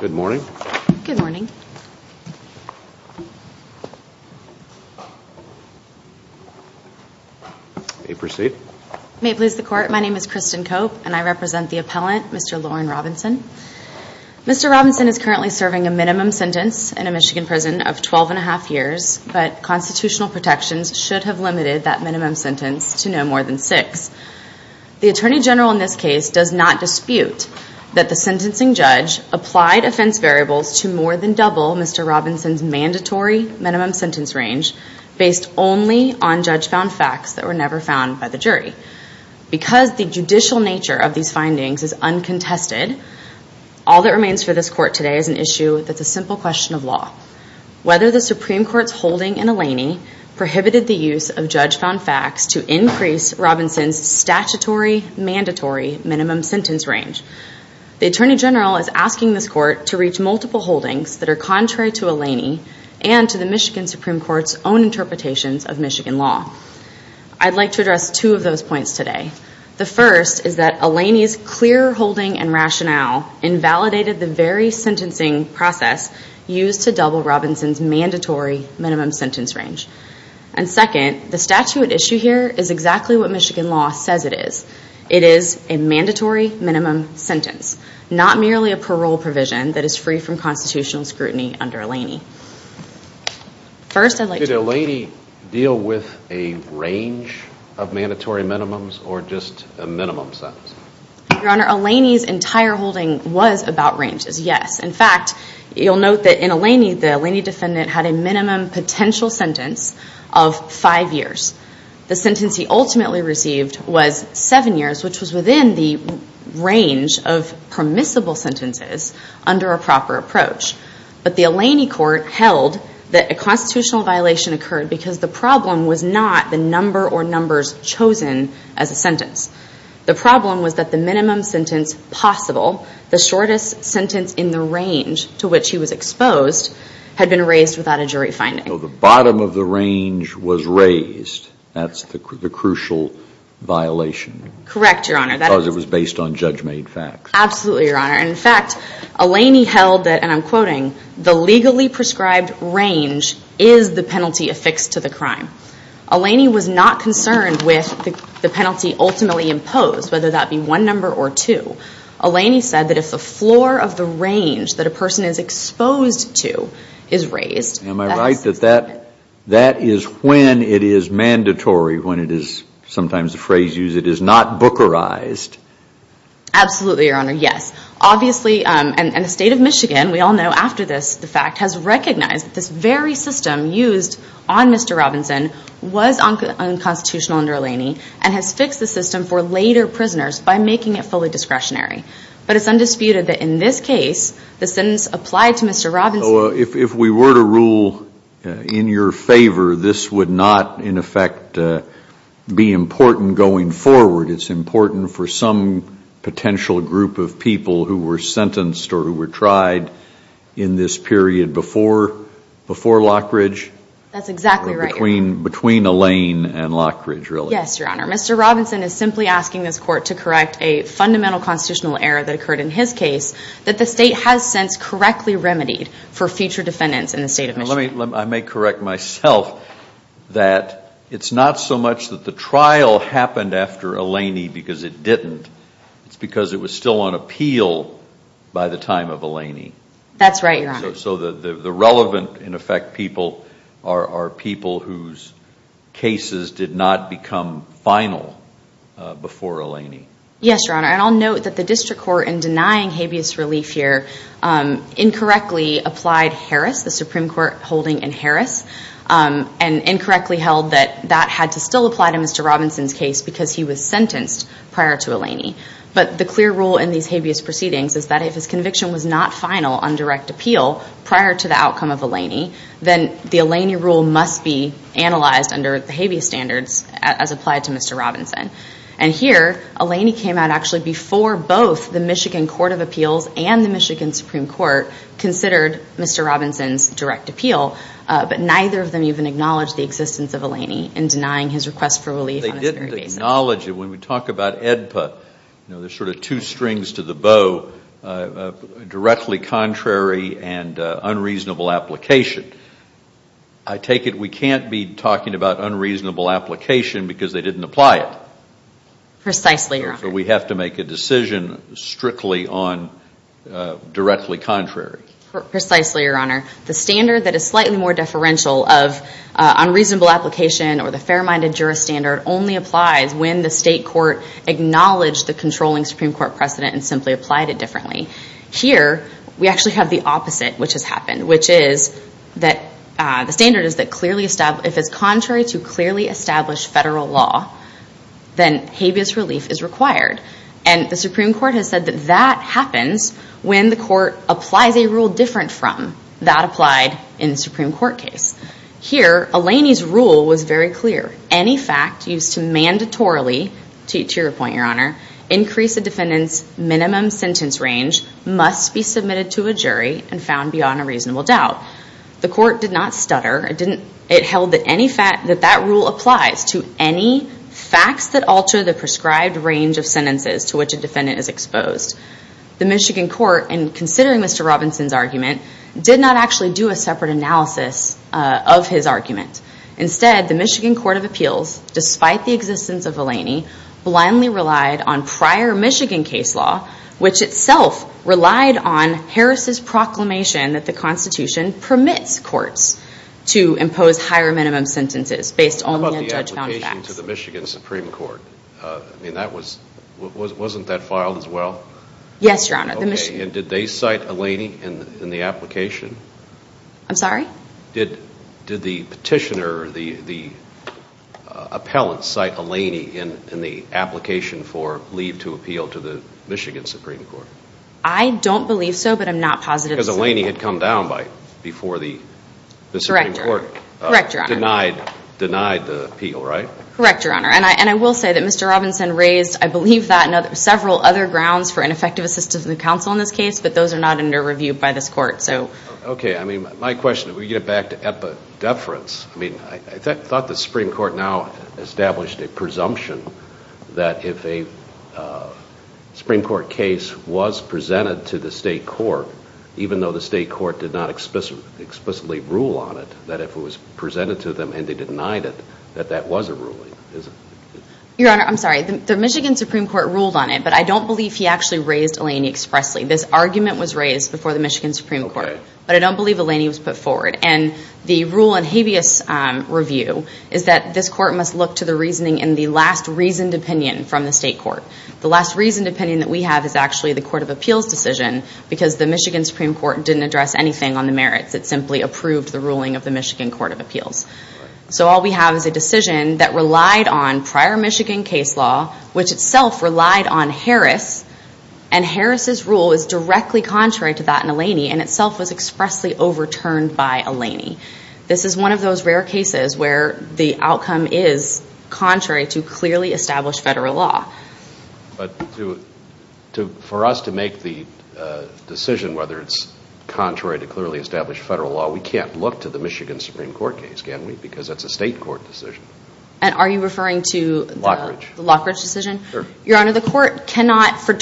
Good morning. Good morning. You may proceed. You may please the court. My name is Kristen Cope and I represent the appellant, Mr. Lauren Robinson. Mr. Robinson is currently serving a minimum sentence in a Michigan prison of twelve and a half years, but constitutional protections should have limited that minimum sentence to no more than six. The Attorney General in this case does not dispute that the sentencing judge applied offense variables to more than double Mr. Robinson's mandatory minimum sentence range based only on judge found facts that were never found by the jury. Because the judicial nature of these findings is uncontested, all that remains for this court today is an issue that's a simple question of law. Whether the Supreme Court's holding in Eleni prohibited the use of judge found facts to increase Robinson's statutory mandatory minimum sentence range. The Attorney General is asking this court to reach multiple holdings that are contrary to Eleni and to the Michigan Supreme Court's own interpretations of Michigan law. I'd like to address two of those points today. The first is that Eleni's clear holding and rationale invalidated the very sentencing process used to double Robinson's mandatory minimum sentence range. And second, the statute at issue here is exactly what Michigan law says it is. It is a mandatory minimum sentence, not merely a parole provision that is free from constitutional scrutiny under Eleni. First I'd like to... Did Eleni deal with a range of mandatory minimums or just a minimum sentence? Your Honor, Eleni's entire holding was about ranges, yes. In fact, you'll note that in Eleni, the Eleni defendant had a minimum potential sentence of five years. The sentence he ultimately received was seven years, which was within the range of permissible sentences under a proper approach. But the Eleni court held that a constitutional violation occurred because the problem was not the number or numbers chosen as a sentence. The problem was that the minimum sentence possible, the shortest sentence in the range to which he was exposed, had been raised without a jury finding. So the bottom of the range was raised. That's the crucial violation. Correct, Your Honor. Because it was based on judge-made facts. Absolutely, Your Honor. In fact, Eleni held that, and I'm quoting, the legally prescribed range is the penalty affixed to the crime. Eleni was not concerned with the penalty ultimately imposed, whether that be one number or two. Eleni said that if the floor of the range that a person is exposed to is raised... Am I right that that is when it is mandatory, when it is, sometimes the phrase used, it is not bookerized? Absolutely, Your Honor. Yes. Obviously, and the State of Michigan, we all know after this, the fact, has recognized that this very system used on Mr. Robinson was unconstitutional under Eleni and has fixed the system for later prisoners by making it fully discretionary. But it's undisputed that in this case, the sentence applied to Mr. Robinson... If we were to rule in your favor, this would not, in effect, be important going forward. It's important for some potential group of people who were sentenced or who were tried in this period before Lockridge? That's exactly right, Your Honor. Between Eleni and Lockridge, really? Yes, Your Honor. Mr. Robinson is simply asking this Court to correct a fundamental constitutional error that occurred in his case that the State has since correctly remedied for future defendants in the State of Michigan. I may correct myself that it's not so much that the trial happened after Eleni because it didn't, it's because it was still on appeal by the time of Eleni. That's right, Your Honor. So the relevant, in effect, people are people whose cases did not become final before Eleni. Yes, Your Honor. And I'll note that the District Court, in denying habeas relief here, incorrectly applied Harris, the Supreme Court holding in Harris, and incorrectly held that that had to still apply to Mr. Robinson's case because he was sentenced prior to Eleni. But the clear rule in these habeas proceedings is that if his conviction was not final on direct appeal prior to the outcome of Eleni, then the Eleni rule must be analyzed under the habeas standards as applied to Mr. Robinson. And here, Eleni came out actually before both the Michigan Court of Appeals and the Michigan Supreme Court, considered Mr. Robinson's direct appeal, but neither of them even acknowledged the existence of Eleni in denying his request for relief on its very basis. They didn't acknowledge it. When we talk about AEDPA, you know, there's sort of two strings to the bow, directly contrary and unreasonable application. I take it we can't be talking about unreasonable application because they didn't apply it. Precisely, Your Honor. So we have to make a decision strictly on directly contrary. Precisely, Your Honor. The standard that is slightly more deferential of unreasonable application or the fair-minded jurist standard only applies when the state court acknowledged the controlling Supreme Court precedent and simply applied it differently. Here, we actually have the opposite, which has happened, which is that the standard is that clearly established, if it's contrary to clearly established federal law, then habeas relief is required. And the Supreme Court has said that that happens when the court applies a rule different from that applied in the Supreme Court case. Here, Eleni's rule was very clear. Any fact used to mandatorily, to your point, Your Honor, increase a defendant's minimum sentence range must be submitted to a jury and found beyond a reasonable doubt. The court did not stutter. It held that that rule applies to any facts that alter the prescribed range of sentences to which a defendant is exposed. The Michigan court, in considering Mr. Robinson's argument, did not actually do a separate analysis of his argument. Instead, the Michigan Court of Appeals, despite the existence of Eleni, blindly relied on prior Michigan case law, which itself relied on Harris's proclamation that the Constitution permits courts to impose higher minimum sentences based only on judge-bound facts. How about the application to the Michigan Supreme Court? I mean, that was, wasn't that filed as well? Yes, Your Honor. Okay, and did they cite Eleni in the application? I'm sorry? Did the petitioner, the appellant, cite Eleni in the application for leave to appeal to the Michigan Supreme Court? I don't believe so, but I'm not positive. Because Eleni had come down before the Supreme Court denied the appeal, right? Correct, Your Honor. And I will say that Mr. Robinson raised, I believe that, and several other grounds for ineffective assistance of the counsel in this case, but those are not under review by this court, so. Okay, I mean, my question, if we get back to epidefference, I mean, I thought the Supreme Court now established a presumption that if a Supreme Court case was presented to the state court, even though the state court did not explicitly rule on it, that if it was presented to them and they denied it, that that was a ruling, is it? Your Honor, I'm sorry, the Michigan Supreme Court ruled on it, but I don't believe he actually raised Eleni expressly. This argument was raised before the Michigan Supreme Court, but I don't believe Eleni was put forward. And the rule in habeas review is that this court must look to the reasoning in the last reasoned opinion from the state court. The last reasoned opinion that we have is actually the Court of Appeals decision, because the Michigan Supreme Court didn't address anything on the merits. It simply approved the ruling of the Michigan Court of Appeals. So all we have is a decision that relied on prior Michigan case law, which itself relied on Harris, and Harris' rule is directly contrary to that in Eleni, and itself was expressly overturned by Eleni. This is one of those rare cases where the outcome is contrary to clearly established federal law. But for us to make the decision whether it's contrary to clearly established federal law, we can't look to the Michigan Supreme Court case, can we? Because that's a state court decision. And are you referring to the Lockridge decision? Sure. Your Honor, the court cannot, for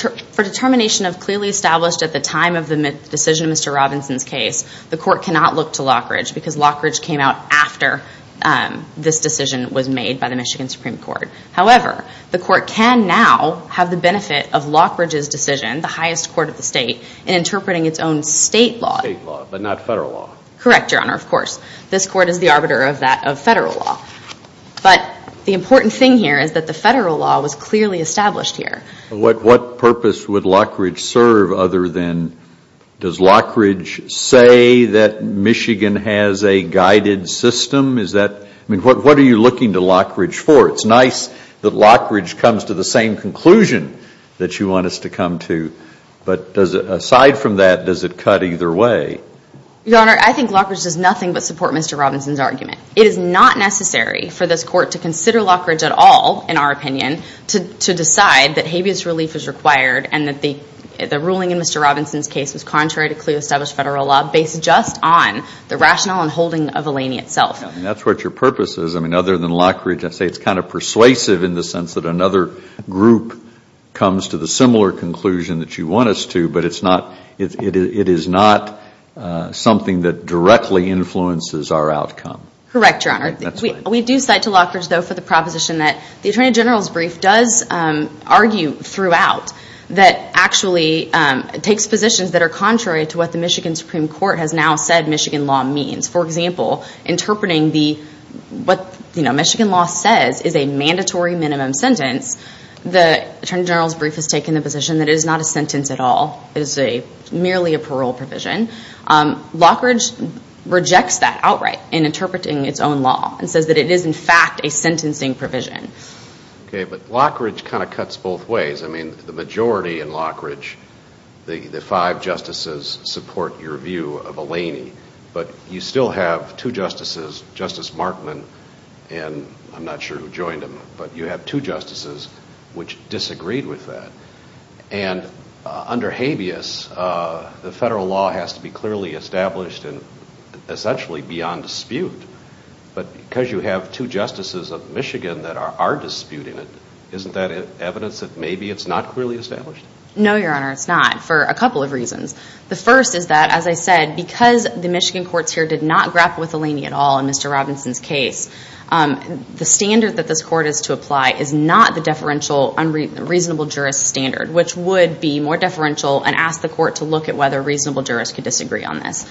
determination of clearly established at the time of the decision of Mr. Robinson's case, the court cannot look to Lockridge, because Lockridge came out after this decision was made by the Michigan Supreme Court. However, the court can now have the benefit of Lockridge's decision, the highest court of the state, in interpreting its own state law. State law, but not federal law. Correct, Your Honor, of course. This court is the arbiter of that, of federal law. But the important thing here is that the federal law was clearly established here. What purpose would Lockridge serve other than, does Lockridge say that Michigan has a guided system? Is that, I mean, what are you looking to Lockridge for? It's nice that Lockridge comes to the same conclusion that you want us to come to. But aside from that, does it cut either way? Your Honor, I think Lockridge does nothing but support Mr. Robinson's argument. It is not necessary for this court to consider Lockridge at all, in our opinion, to decide that habeas relief is required and that the ruling in Mr. Robinson's case was contrary to clearly established federal law, based just on the rationale and holding of Eleni itself. I mean, that's what your purpose is. I mean, other than Lockridge, I'd say it's kind of persuasive in the sense that another group comes to the similar conclusion that you want us to, but it's not, it is not something that directly influences our outcome. Correct, Your Honor. That's right. We do cite to Lockridge, though, for the proposition that the Attorney General's brief does argue throughout that actually takes positions that are contrary to what the Michigan Supreme Court has now said Michigan law means. For example, interpreting what Michigan law says is a mandatory minimum sentence, the Attorney General's brief has taken the position that it is not a sentence at all, it is merely a parole provision. Lockridge rejects that outright in interpreting its own law and says that it is, in fact, a sentencing provision. Okay, but Lockridge kind of cuts both ways. I mean, the majority in Lockridge, the five justices support your view of Eleni, but you still have two justices, Justice Markman, and I'm not sure who joined him, but you have two justices which disagreed with that, and under habeas, the federal law has to be clearly established and essentially beyond dispute, but because you have two justices of Michigan that are disputing it, isn't that evidence that maybe it's not clearly established? No, Your Honor, it's not, for a couple of reasons. The first is that, as I said, because the Michigan courts here did not grapple with Eleni at all in Mr. Robinson's case, the standard that this court is to apply is not the deferential unreasonable jurist standard, which would be more deferential and ask the court to look at whether reasonable jurists could disagree on this.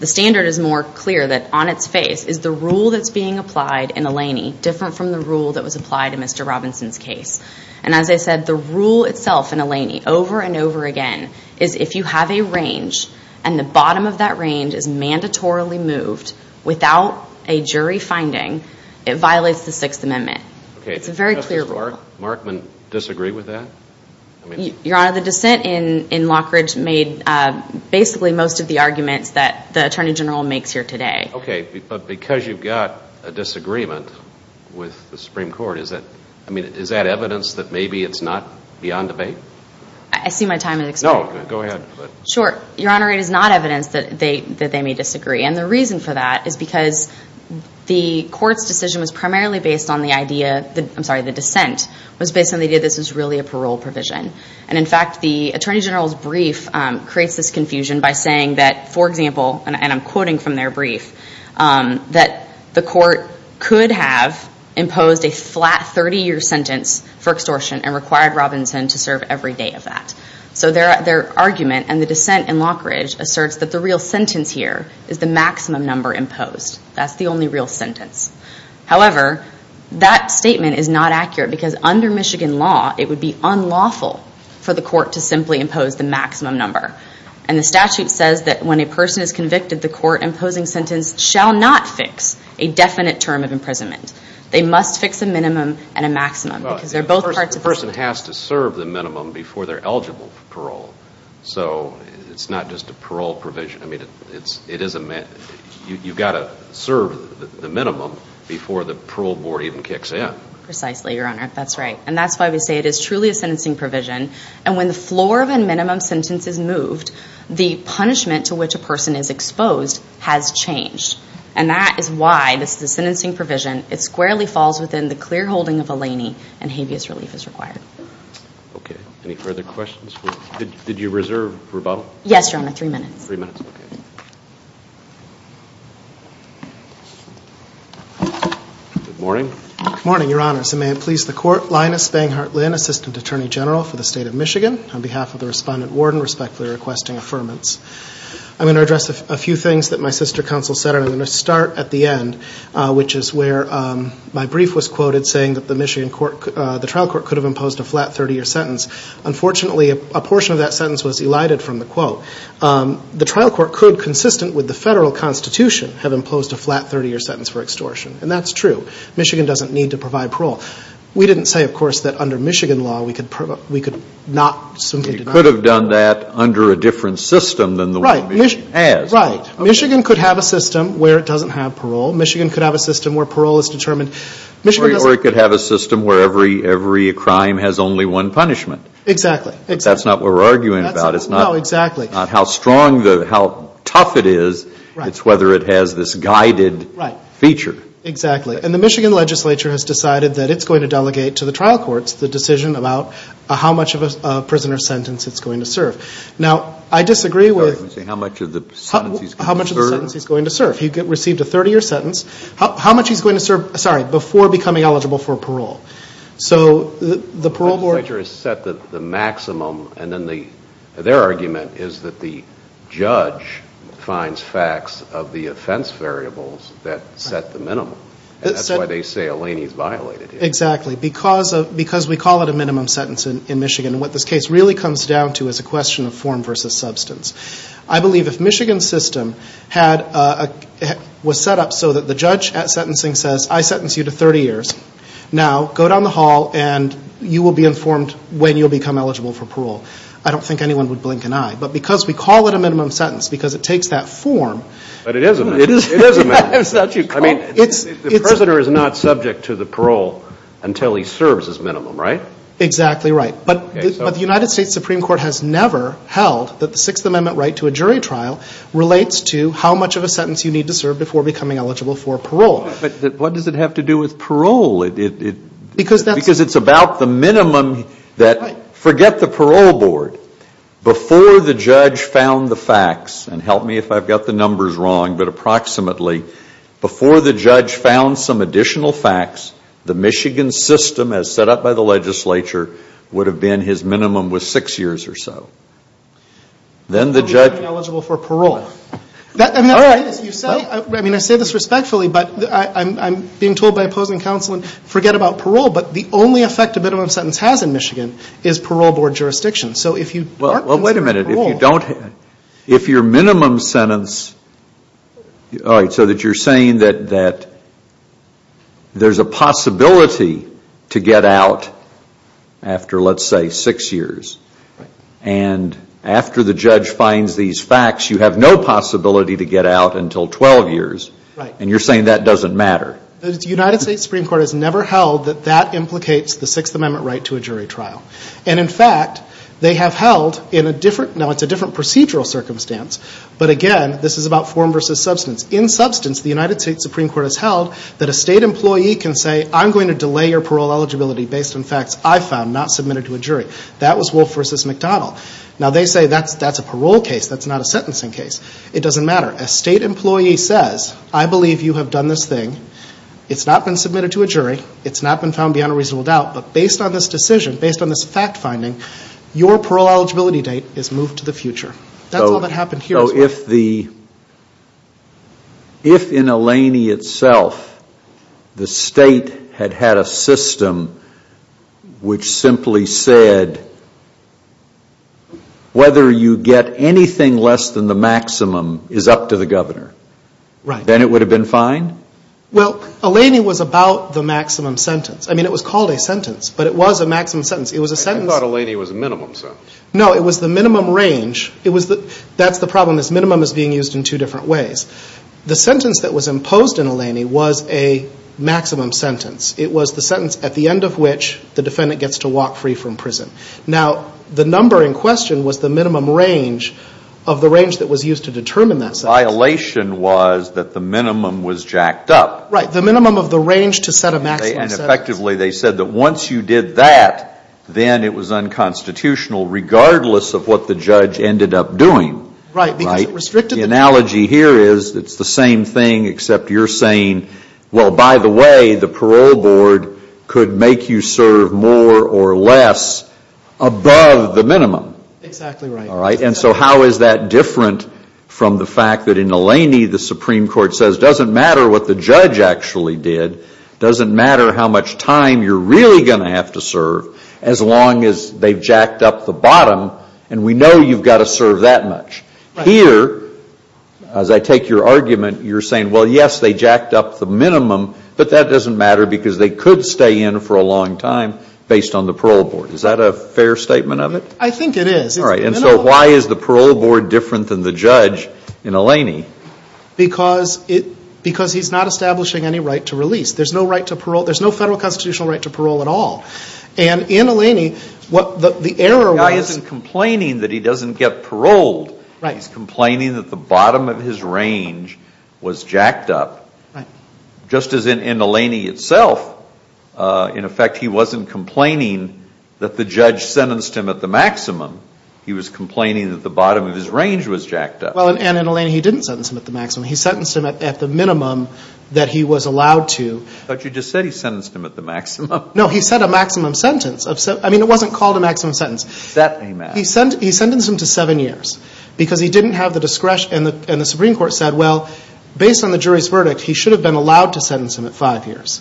The standard is more clear that on its face is the rule that's being applied in Eleni different from the rule that was applied in Mr. Robinson's case, and as I said, the rule itself in Eleni, over and over again, is if you have a range and the bottom of that range is mandatorily moved without a jury finding, it violates the Sixth Amendment. It's a very clear rule. Does Justice Markman disagree with that? Your Honor, the dissent in Lockridge made basically most of the arguments that the Attorney General makes here today. Okay, but because you've got a disagreement with the Supreme Court, is that evidence that maybe it's not beyond debate? I see my time has expired. No, go ahead. Sure. Your Honor, it is not evidence that they may disagree, and the reason for that is because the court's decision was primarily based on the idea, I'm sorry, the dissent was based on the idea that this was really a parole provision, and in fact, the Attorney General's brief creates this confusion by saying that, for example, and I'm quoting from their brief, that the court could have imposed a flat 30-year sentence for extortion and required Robinson to serve every day of that. So their argument and the dissent in Lockridge asserts that the real sentence here is the maximum number imposed. That's the only real sentence. However, that statement is not accurate because under Michigan law, it would be unlawful for the court to simply impose the maximum number, and the statute says that when a person is shall not fix a definite term of imprisonment. They must fix a minimum and a maximum because they're both parts of the same thing. A person has to serve the minimum before they're eligible for parole, so it's not just a parole provision. I mean, you've got to serve the minimum before the parole board even kicks in. Precisely, Your Honor, that's right, and that's why we say it is truly a sentencing provision, and when the floor of a minimum sentence is moved, the punishment to which a person is charged, and that is why this is a sentencing provision. It squarely falls within the clear holding of Eleni and habeas relief is required. Okay. Any further questions? Did you reserve rebuttal? Yes, Your Honor. Three minutes. Three minutes. Okay. Good morning. Good morning, Your Honors, and may it please the court, Linus Banghart Lynn, Assistant Attorney General for the State of Michigan, on behalf of the Respondent Warden, respectfully requesting affirmance. I'm going to address a few things that my sister counsel said, and I'm going to start at the end, which is where my brief was quoted saying that the Michigan trial court could have imposed a flat 30-year sentence. Unfortunately, a portion of that sentence was elided from the quote. The trial court could, consistent with the federal constitution, have imposed a flat 30-year sentence for extortion, and that's true. Michigan doesn't need to provide parole. We didn't say, of course, that under Michigan law we could not simply deny parole. Michigan could have that under a different system than the one Michigan has. Right. Michigan could have a system where it doesn't have parole. Michigan could have a system where parole is determined. Or it could have a system where every crime has only one punishment. Exactly. But that's not what we're arguing about. It's not how strong, how tough it is. It's whether it has this guided feature. Exactly. And the Michigan legislature has decided that it's going to delegate to the trial courts the decision about how much of a prisoner's sentence it's going to serve. Now, I disagree with... You're saying how much of the sentence he's going to serve? How much of the sentence he's going to serve. He received a 30-year sentence. How much he's going to serve, sorry, before becoming eligible for parole. So the parole board... The legislature has set the maximum, and then their argument is that the judge finds facts of the offense variables that set the minimum. And that's why they say Eleni's violated it. Exactly. Because we call it a minimum sentence in Michigan, and what this case really comes down to is a question of form versus substance. I believe if Michigan's system was set up so that the judge at sentencing says, I sentence you to 30 years, now go down the hall and you will be informed when you'll become eligible for parole. I don't think anyone would blink an eye. But because we call it a minimum sentence, because it takes that form... But it is a minimum. It is a minimum. I mean, the prisoner is not subject to the parole until he serves his minimum, right? Exactly right. But the United States Supreme Court has never held that the Sixth Amendment right to a jury trial relates to how much of a sentence you need to serve before becoming eligible for parole. But what does it have to do with parole? Because it's about the minimum that... Forget the parole board. Before the judge found the facts, and help me if I've got the numbers wrong, but approximately, before the judge found some additional facts, the Michigan system as set up by the legislature would have been his minimum was six years or so. Then the judge... Then you'd be eligible for parole. All right. I mean, I say this respectfully, but I'm being told by opposing counsel, forget about parole. But the only effect a minimum sentence has in Michigan is parole board jurisdiction. So if you are considering parole... Well, wait a minute. If you don't... If your minimum sentence... All right. So that you're saying that there's a possibility to get out after, let's say, six years, and after the judge finds these facts, you have no possibility to get out until 12 years, and you're saying that doesn't matter. The United States Supreme Court has never held that that implicates the Sixth Amendment right to a jury trial. And in fact, they have held in a different... Now, it's a different procedural circumstance, but again, this is about form versus substance. In substance, the United States Supreme Court has held that a state employee can say, I'm going to delay your parole eligibility based on facts I found not submitted to a jury. That was Wolf v. McDonnell. Now they say that's a parole case, that's not a sentencing case. It doesn't matter. A state employee says, I believe you have done this thing. It's not been submitted to a jury. It's not been found beyond a reasonable doubt. But based on this decision, based on this fact-finding, your parole eligibility date is moved to the future. That's all that happened here. So if the... If in Eleni itself, the state had had a system which simply said, whether you get anything less than the maximum is up to the governor, then it would have been fine? Well, Eleni was about the maximum sentence. I mean, it was called a sentence, but it was a maximum sentence. It was a sentence... I thought Eleni was a minimum sentence. No. It was the minimum range. It was the... That's the problem. This minimum is being used in two different ways. The sentence that was imposed in Eleni was a maximum sentence. It was the sentence at the end of which the defendant gets to walk free from prison. Now, the number in question was the minimum range of the range that was used to determine that sentence. The violation was that the minimum was jacked up. Right. The minimum of the range to set a maximum sentence. And effectively, they said that once you did that, then it was unconstitutional, regardless of what the judge ended up doing. Right. Because it restricted... The analogy here is it's the same thing, except you're saying, well, by the way, the parole board could make you serve more or less above the minimum. Exactly right. All right? And so how is that different from the fact that in Eleni, the Supreme Court says, doesn't matter what the judge actually did, doesn't matter how much time you're really going to have to serve, as long as they've jacked up the bottom, and we know you've got to serve that much. Right. Here, as I take your argument, you're saying, well, yes, they jacked up the minimum, but that doesn't matter because they could stay in for a long time based on the parole board. Is that a fair statement of it? I think it is. All right. And so why is the parole board different than the judge in Eleni? Because he's not establishing any right to release. There's no right to parole. There's no federal constitutional right to parole at all. And in Eleni, what the error was... The guy isn't complaining that he doesn't get paroled. Right. He's complaining that the bottom of his range was jacked up. Just as in Eleni itself, in effect, he wasn't complaining that the judge sentenced him at the maximum. He was complaining that the bottom of his range was jacked up. Well, and in Eleni, he didn't sentence him at the maximum. He sentenced him at the minimum that he was allowed to. But you just said he sentenced him at the maximum. No, he said a maximum sentence. I mean, it wasn't called a maximum sentence. That may matter. He sentenced him to seven years because he didn't have the discretion. And the Supreme Court said, well, based on the jury's verdict, he should have been allowed to sentence him at five years.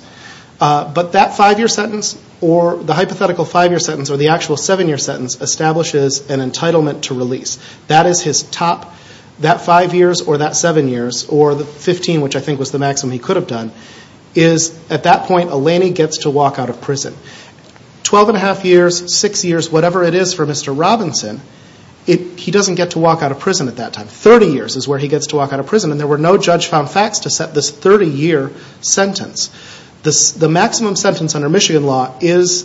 But that five-year sentence or the hypothetical five-year sentence or the actual seven-year sentence establishes an entitlement to release. That is his top, that five years or that seven years or the 15, which I think was the maximum he could have done, is at that point, Eleni gets to walk out of prison. Twelve and a half years, six years, whatever it is for Mr. Robinson, he doesn't get to walk out of prison at that time. Thirty years is where he gets to walk out of prison and there were no judge-found facts to set this 30-year sentence. The maximum sentence under Michigan law is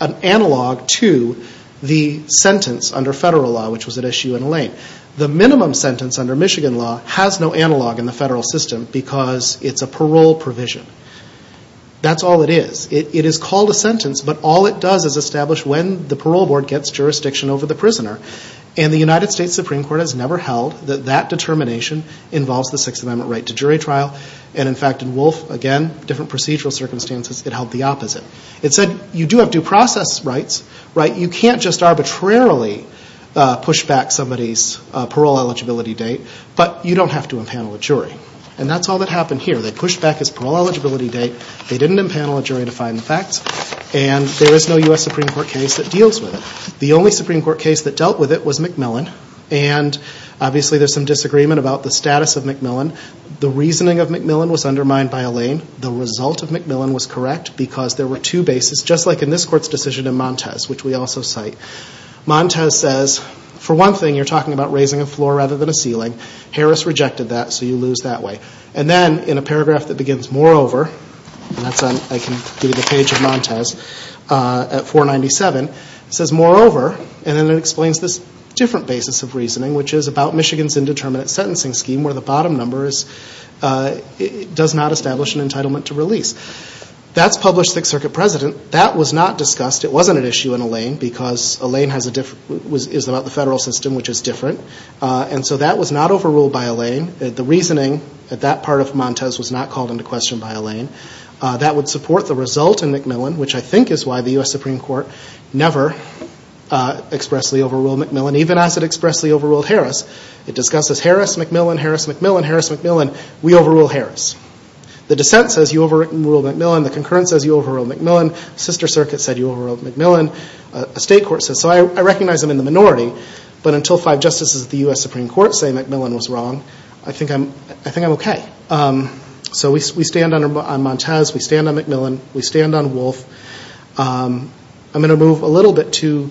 an analog to the sentence under federal law, which was at SU and Elaine. The minimum sentence under Michigan law has no analog in the federal system because it's a parole provision. That's all it is. It is called a sentence, but all it does is establish when the parole board gets jurisdiction over the prisoner. And the United States Supreme Court has never held that that determination involves the Sixth Amendment right to jury trial. And in fact, in Wolf, again, different procedural circumstances, it held the opposite. It said you do have due process rights, right? You can't just arbitrarily push back somebody's parole eligibility date, but you don't have to impanel a jury. And that's all that happened here. They pushed back his parole eligibility date, they didn't impanel a jury to find the facts, and there is no U.S. Supreme Court case that deals with it. The only Supreme Court case that dealt with it was McMillan, and obviously there's some disagreement about the status of McMillan. The reasoning of McMillan was undermined by Elaine. The result of McMillan was correct because there were two bases, just like in this Court's decision in Montes, which we also cite. Montes says, for one thing, you're talking about raising a floor rather than a ceiling. Harris rejected that, so you lose that way. And then in a paragraph that begins, moreover, and that's on, I can give you the page of Montes, at 497, it says, moreover, and then it explains this different basis of reasoning, which is about Michigan's indeterminate sentencing scheme, where the bottom number is, does not establish an entitlement to release. That's published Sixth Circuit precedent. That was not discussed. It wasn't an issue in Elaine because Elaine is about the federal system, which is different. And so that was not overruled by Elaine. The reasoning at that part of Montes was not called into question by Elaine. That would support the result in McMillan, which I think is why the U.S. Supreme Court never expressly overruled McMillan, even as it expressly overruled Harris. It discusses Harris-McMillan, Harris-McMillan, Harris-McMillan. We overrule Harris. The dissent says you overruled McMillan, the concurrence says you overruled McMillan, the sister circuit said you overruled McMillan, a state court says, so I recognize I'm in the minority, but until five justices of the U.S. Supreme Court say McMillan was wrong, I think I'm okay. So we stand on Montes, we stand on McMillan, we stand on Wolfe. I'm going to move a little bit to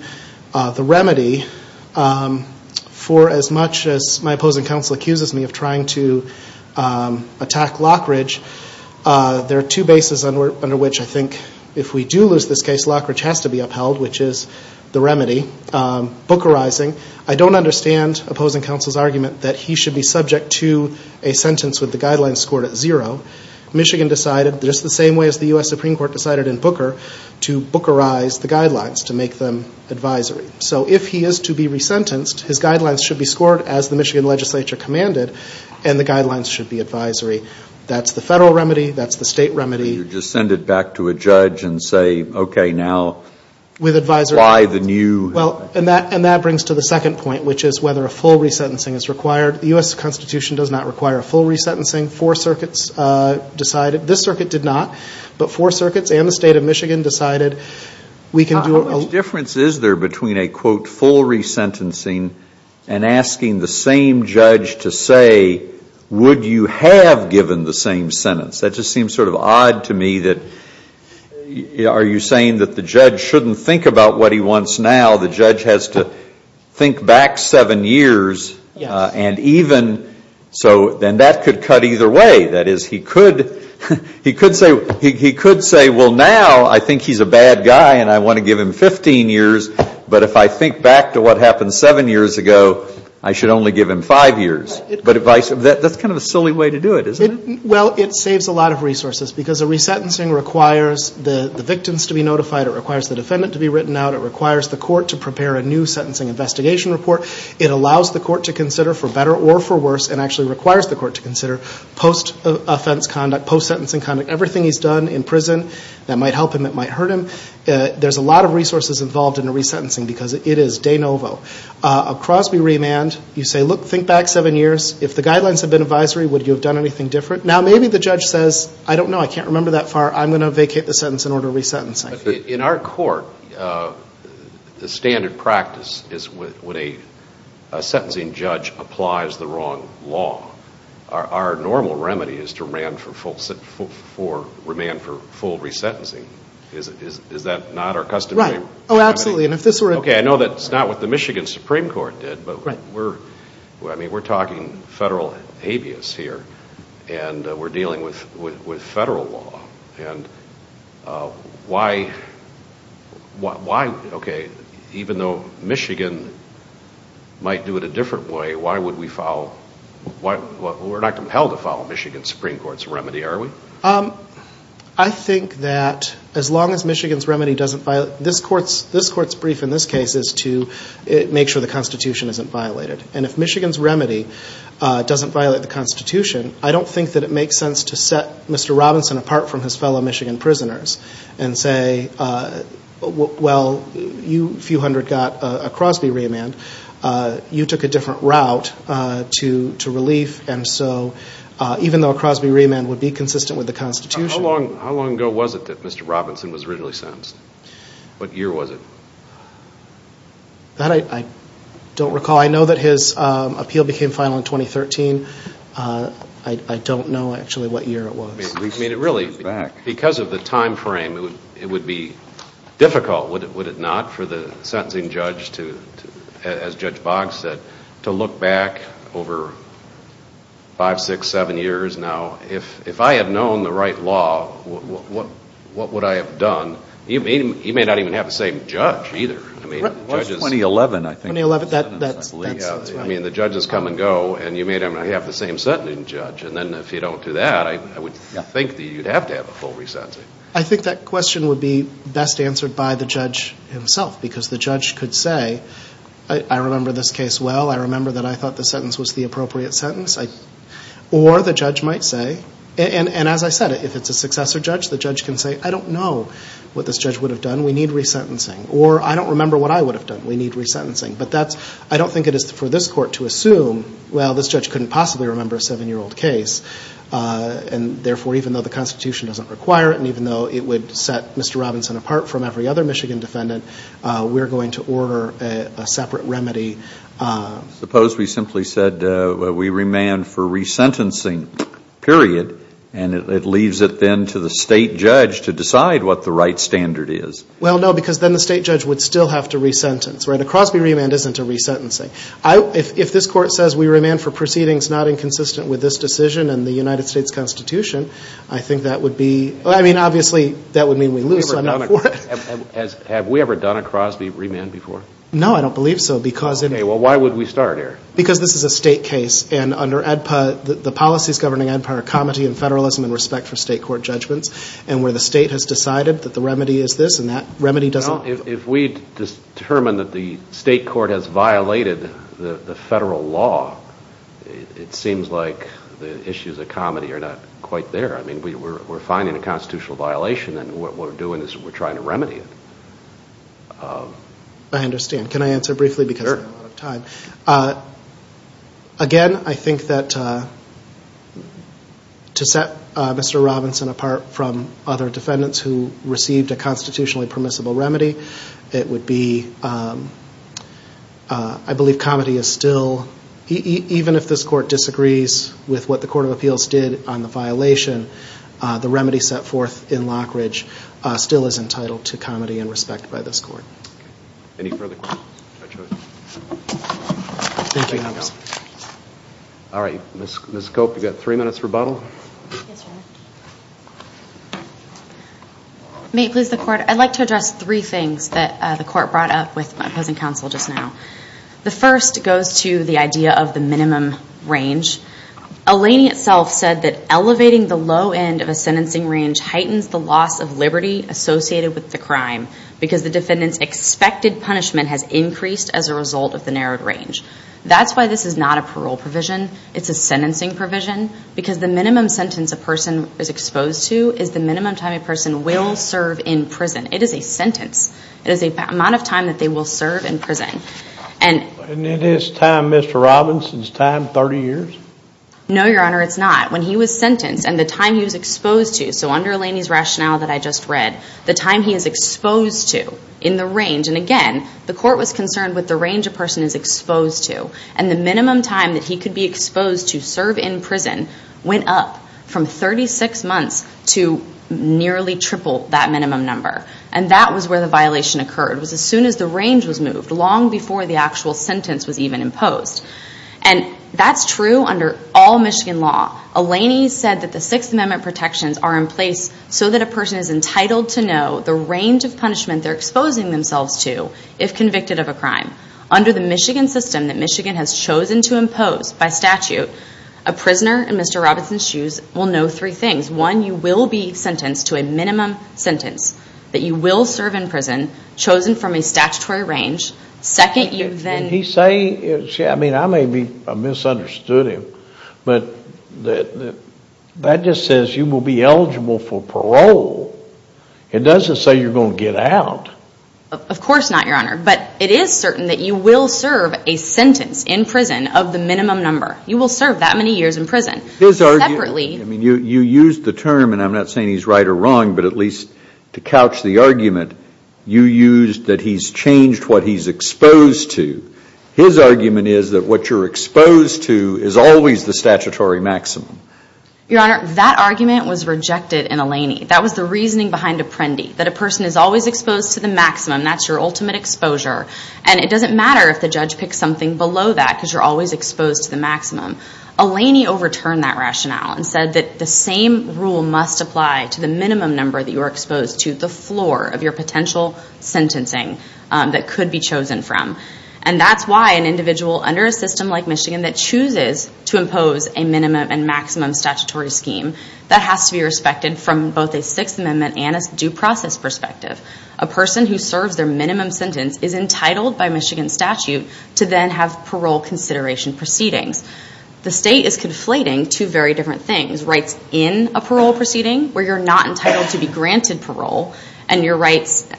the remedy for as much as my opposing counsel accuses me of trying to attack Lockridge, there are two bases under which I think if we do lose this case, Lockridge has to be upheld, which is the remedy, bookerizing. I don't understand opposing counsel's argument that he should be subject to a sentence with the guidelines scored at zero. Michigan decided, just the same way as the U.S. Supreme Court decided in Booker, to bookerize the guidelines, to make them advisory. So if he is to be resentenced, his guidelines should be scored as the Michigan legislature commanded, and the guidelines should be advisory. That's the federal remedy, that's the state remedy. You just send it back to a judge and say, okay, now, apply the new. And that brings to the second point, which is whether a full resentencing is required. The U.S. Constitution does not require a full resentencing. Four circuits decided, this circuit did not, but four circuits and the state of Michigan decided we can do a What difference is there between a, quote, full resentencing and asking the same judge to say, would you have given the same sentence? That just seems sort of odd to me that, are you saying that the judge shouldn't think about what he wants now? The judge has to think back seven years and even, so then that could cut either way. That is, he could say, well, now I think he's a bad guy and I want to give him 15 years, but if I think back to what happened seven years ago, I should only give him five years. But that's kind of a silly way to do it, isn't it? Well, it saves a lot of resources, because a resentencing requires the victims to be notified, it requires the defendant to be written out, it requires the court to prepare a new sentencing investigation report, it allows the court to consider for better or for worse, and actually requires the court to consider post-offense conduct, post-sentencing conduct, everything he's done in prison that might help him, that might hurt him. There's a lot of resources involved in a resentencing, because it is de novo. A Crosby remand, you say, look, think back seven years. If the guidelines had been advisory, would you have done anything different? Now maybe the judge says, I don't know, I can't remember that far, I'm going to vacate the sentence in order of resentencing. In our court, the standard practice is when a sentencing judge applies the wrong law, our normal remedy is to remand for full resentencing. Is that not our customary remedy? Right. Oh, absolutely. And if this were a- Okay, I know that's not what the Michigan Supreme Court did, but we're talking federal here, and we're dealing with federal law, and why, okay, even though Michigan might do it a different way, why would we follow, we're not compelled to follow Michigan Supreme Court's remedy, are we? I think that as long as Michigan's remedy doesn't violate, this court's brief in this case is to make sure the Constitution isn't violated. And if Michigan's remedy doesn't violate the Constitution, I don't think that it makes sense to set Mr. Robinson apart from his fellow Michigan prisoners and say, well, you few hundred got a Crosby remand, you took a different route to relief, and so even though a Crosby remand would be consistent with the Constitution- How long ago was it that Mr. Robinson was originally sentenced? What year was it? That I don't recall. I know that his appeal became final in 2013. I don't know actually what year it was. I mean, really, because of the time frame, it would be difficult, would it not, for the sentencing judge to, as Judge Boggs said, to look back over five, six, seven years now, if I had known the right law, what would I have done? He may not even have the same judge either. I mean, judges- What was 2011, I think? That's right. I mean, the judges come and go, and you may not even have the same sentencing judge, and then if you don't do that, I would think that you'd have to have a full re-sentencing. I think that question would be best answered by the judge himself, because the judge could say, I remember this case well, I remember that I thought the sentence was the appropriate sentence, or the judge might say, and as I said, if it's a successor judge, the judge can say, I don't know what this judge would have done, we need re-sentencing, or I don't remember what I would have done, we need re-sentencing. But that's, I don't think it is for this court to assume, well, this judge couldn't possibly remember a seven-year-old case, and therefore, even though the Constitution doesn't require it, and even though it would set Mr. Robinson apart from every other Michigan defendant, we're going to order a separate remedy. Suppose we simply said, we remand for re-sentencing, period, and it leaves it then to the state judge to decide what the right standard is. Well, no, because then the state judge would still have to re-sentence, right? A Crosby remand isn't a re-sentencing. If this court says, we remand for proceedings not inconsistent with this decision and the United States Constitution, I think that would be, I mean, obviously, that would mean we lose, so I'm not for it. Have we ever done a Crosby remand before? No, I don't believe so, because... Okay, well, why would we start here? Because this is a state case, and under ADPA, the policies governing ADPA are comity and federalism in respect for state court judgments, and where the state has decided that the remedy is this, and that remedy doesn't... If we determine that the state court has violated the federal law, it seems like the issues of comity are not quite there. I mean, we're finding a constitutional violation, and what we're doing is we're trying to remedy it. I understand. Can I answer briefly, because I'm running out of time? Again, I think that to set Mr. Robinson apart from other defendants who received a constitutionally permissible remedy, it would be... I believe comity is still, even if this court disagrees with what the Court of Appeals did on the violation, the remedy set forth in Lockridge still is entitled to comity and respect by this court. Any further questions? Thank you. Thank you. All right. Ms. Cope, you've got three minutes for rebuttal. Yes, Your Honor. May it please the Court, I'd like to address three things that the Court brought up with my opposing counsel just now. The first goes to the idea of the minimum range. Alaney itself said that elevating the low end of a sentencing range heightens the loss of liberty associated with the crime, because the defendant's expected punishment has increased as a result of the narrowed range. That's why this is not a parole provision. It's a sentencing provision, because the minimum sentence a person is exposed to is the minimum time a person will serve in prison. It is a sentence. It is the amount of time that they will serve in prison. Isn't it his time, Mr. Robinson's time, 30 years? No, Your Honor, it's not. When he was sentenced and the time he was exposed to... Under Alaney's rationale that I just read, the time he is exposed to in the range... And again, the Court was concerned with the range a person is exposed to. And the minimum time that he could be exposed to serve in prison went up from 36 months to nearly triple that minimum number. And that was where the violation occurred, was as soon as the range was moved, long before the actual sentence was even imposed. And that's true under all Michigan law. Alaney said that the Sixth Amendment protections are in place so that a person is entitled to know the range of punishment they're exposing themselves to if convicted of a crime. Under the Michigan system that Michigan has chosen to impose by statute, a prisoner, in Mr. Robinson's shoes, will know three things. One, you will be sentenced to a minimum sentence, that you will serve in prison, chosen from a statutory range. Second, you then... And he's saying... I mean, I may have misunderstood him, but that just says you will be eligible for parole. It doesn't say you're going to get out. Of course not, Your Honor. But it is certain that you will serve a sentence in prison of the minimum number. You will serve that many years in prison. His argument... Separately... I mean, you used the term, and I'm not saying he's right or wrong, but at least to couch the argument, you used that he's changed what he's exposed to. His argument is that what you're exposed to is always the statutory maximum. Your Honor, that argument was rejected in Alaney. That was the reasoning behind Apprendi, that a person is always exposed to the maximum. That's your ultimate exposure. And it doesn't matter if the judge picks something below that, because you're always exposed to the maximum. Alaney overturned that rationale and said that the same rule must apply to the minimum number that you are exposed to, the floor of your potential sentencing that could be chosen from. And that's why an individual under a system like Michigan that chooses to impose a minimum and maximum statutory scheme, that has to be respected from both a Sixth Amendment and a due process perspective. A person who serves their minimum sentence is entitled by Michigan statute to then have parole consideration proceedings. The state is conflating two very different things, rights in a parole proceeding where you're not entitled to be granted parole and your rights to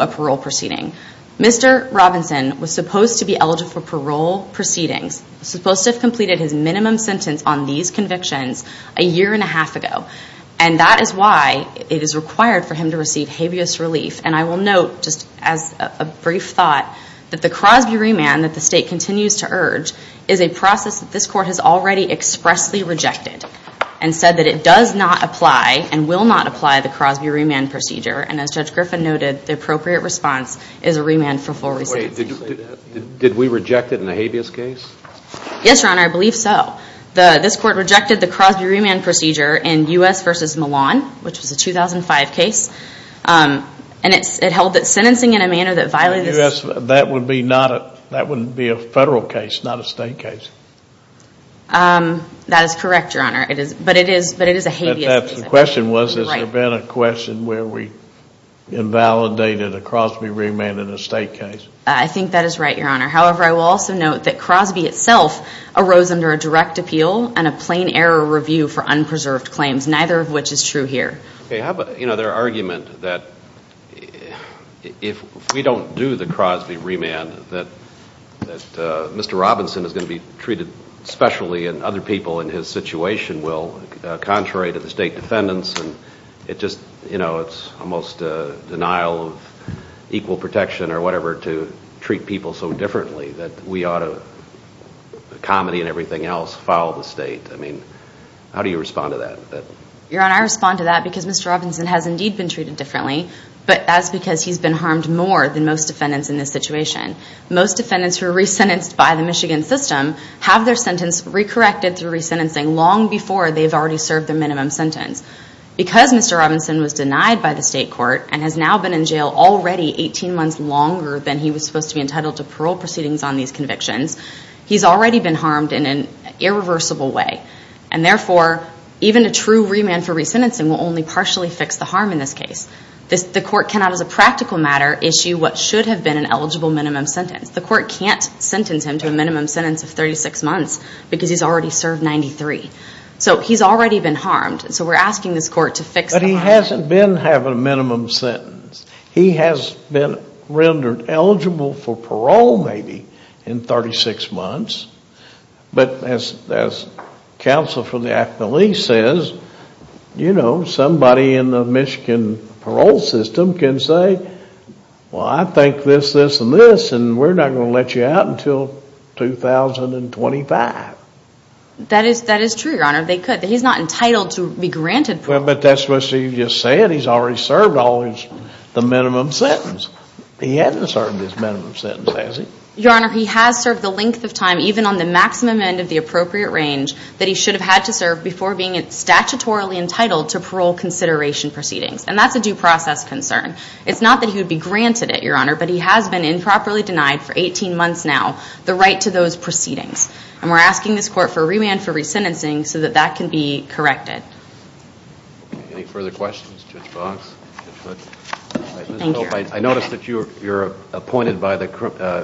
a parole proceeding. Mr. Robinson was supposed to be eligible for parole proceedings, supposed to have completed his minimum sentence on these convictions a year and a half ago. And that is why it is required for him to receive habeas relief. And I will note, just as a brief thought, that the Crosby remand that the state continues to urge is a process that this court has already expressly rejected and said that it does not apply and will not apply the Crosby remand procedure. And as Judge Griffin noted, the appropriate response is a remand for full recidivism. Did we reject it in the habeas case? Yes, Your Honor, I believe so. This court rejected the Crosby remand procedure in U.S. v. Milan, which was a 2005 case. That would be a federal case, not a state case. That is correct, Your Honor. But it is a habeas case. The question was, has there been a question where we invalidated a Crosby remand in a state case? I think that is right, Your Honor. However, I will also note that Crosby itself arose under a direct appeal and a plain error review for unpreserved claims, neither of which is true here. Okay, how about their argument that if we don't do the Crosby remand, that Mr. Robinson is going to be treated specially and other people in his situation will, contrary to the state defendants, and it just, you know, it's almost a denial of equal protection or whatever to treat people so differently that we ought to, comedy and everything else, follow the state. I mean, how do you respond to that? Your Honor, I respond to that because Mr. Robinson has indeed been treated differently, but that's because he's been harmed more than most defendants in this situation. Most defendants who are resentenced by the Michigan system have their sentence recorrected through resentencing long before they've already served their minimum sentence. Because Mr. Robinson was denied by the state court and has now been in jail already 18 months longer than he was supposed to be entitled to parole proceedings on these convictions, he's already been harmed in an irreversible way. And therefore, even a true remand for resentencing will only partially fix the harm in this case. The court cannot, as a practical matter, issue what should have been an eligible minimum sentence. The court can't sentence him to a minimum sentence of 36 months because he's already served 93. So he's already been harmed, so we're asking this court to fix the harm. But he hasn't been having a minimum sentence. He has been rendered eligible for parole maybe in 36 months, but as counsel for the affiliate says, you know, somebody in the Michigan parole system can say, well, I think this, this, and this, and we're not going to let you out until 2025. That is true, Your Honor. They could. He's not entitled to be granted parole. But that's what you just said. He's already served all his, the minimum sentence. He hasn't served his minimum sentence, has he? Your Honor, he has served the length of time, even on the maximum end of the appropriate range that he should have had to serve before being statutorily entitled to parole consideration proceedings. And that's a due process concern. It's not that he would be granted it, Your Honor, but he has been improperly denied for 18 months now the right to those proceedings. And we're asking this court for a remand for resentencing so that that can be corrected. Any further questions? Judge Boggs? Judge Hood? Thank you, Your Honor. I noticed that you're appointed by the,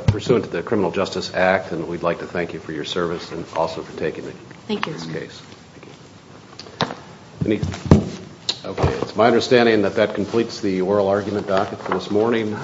pursuant to the Criminal Justice Act, and we'd like to thank you for your service and also for taking this case. Thank you, Your Honor. Okay. It's my understanding that that completes the oral argument docket for this morning.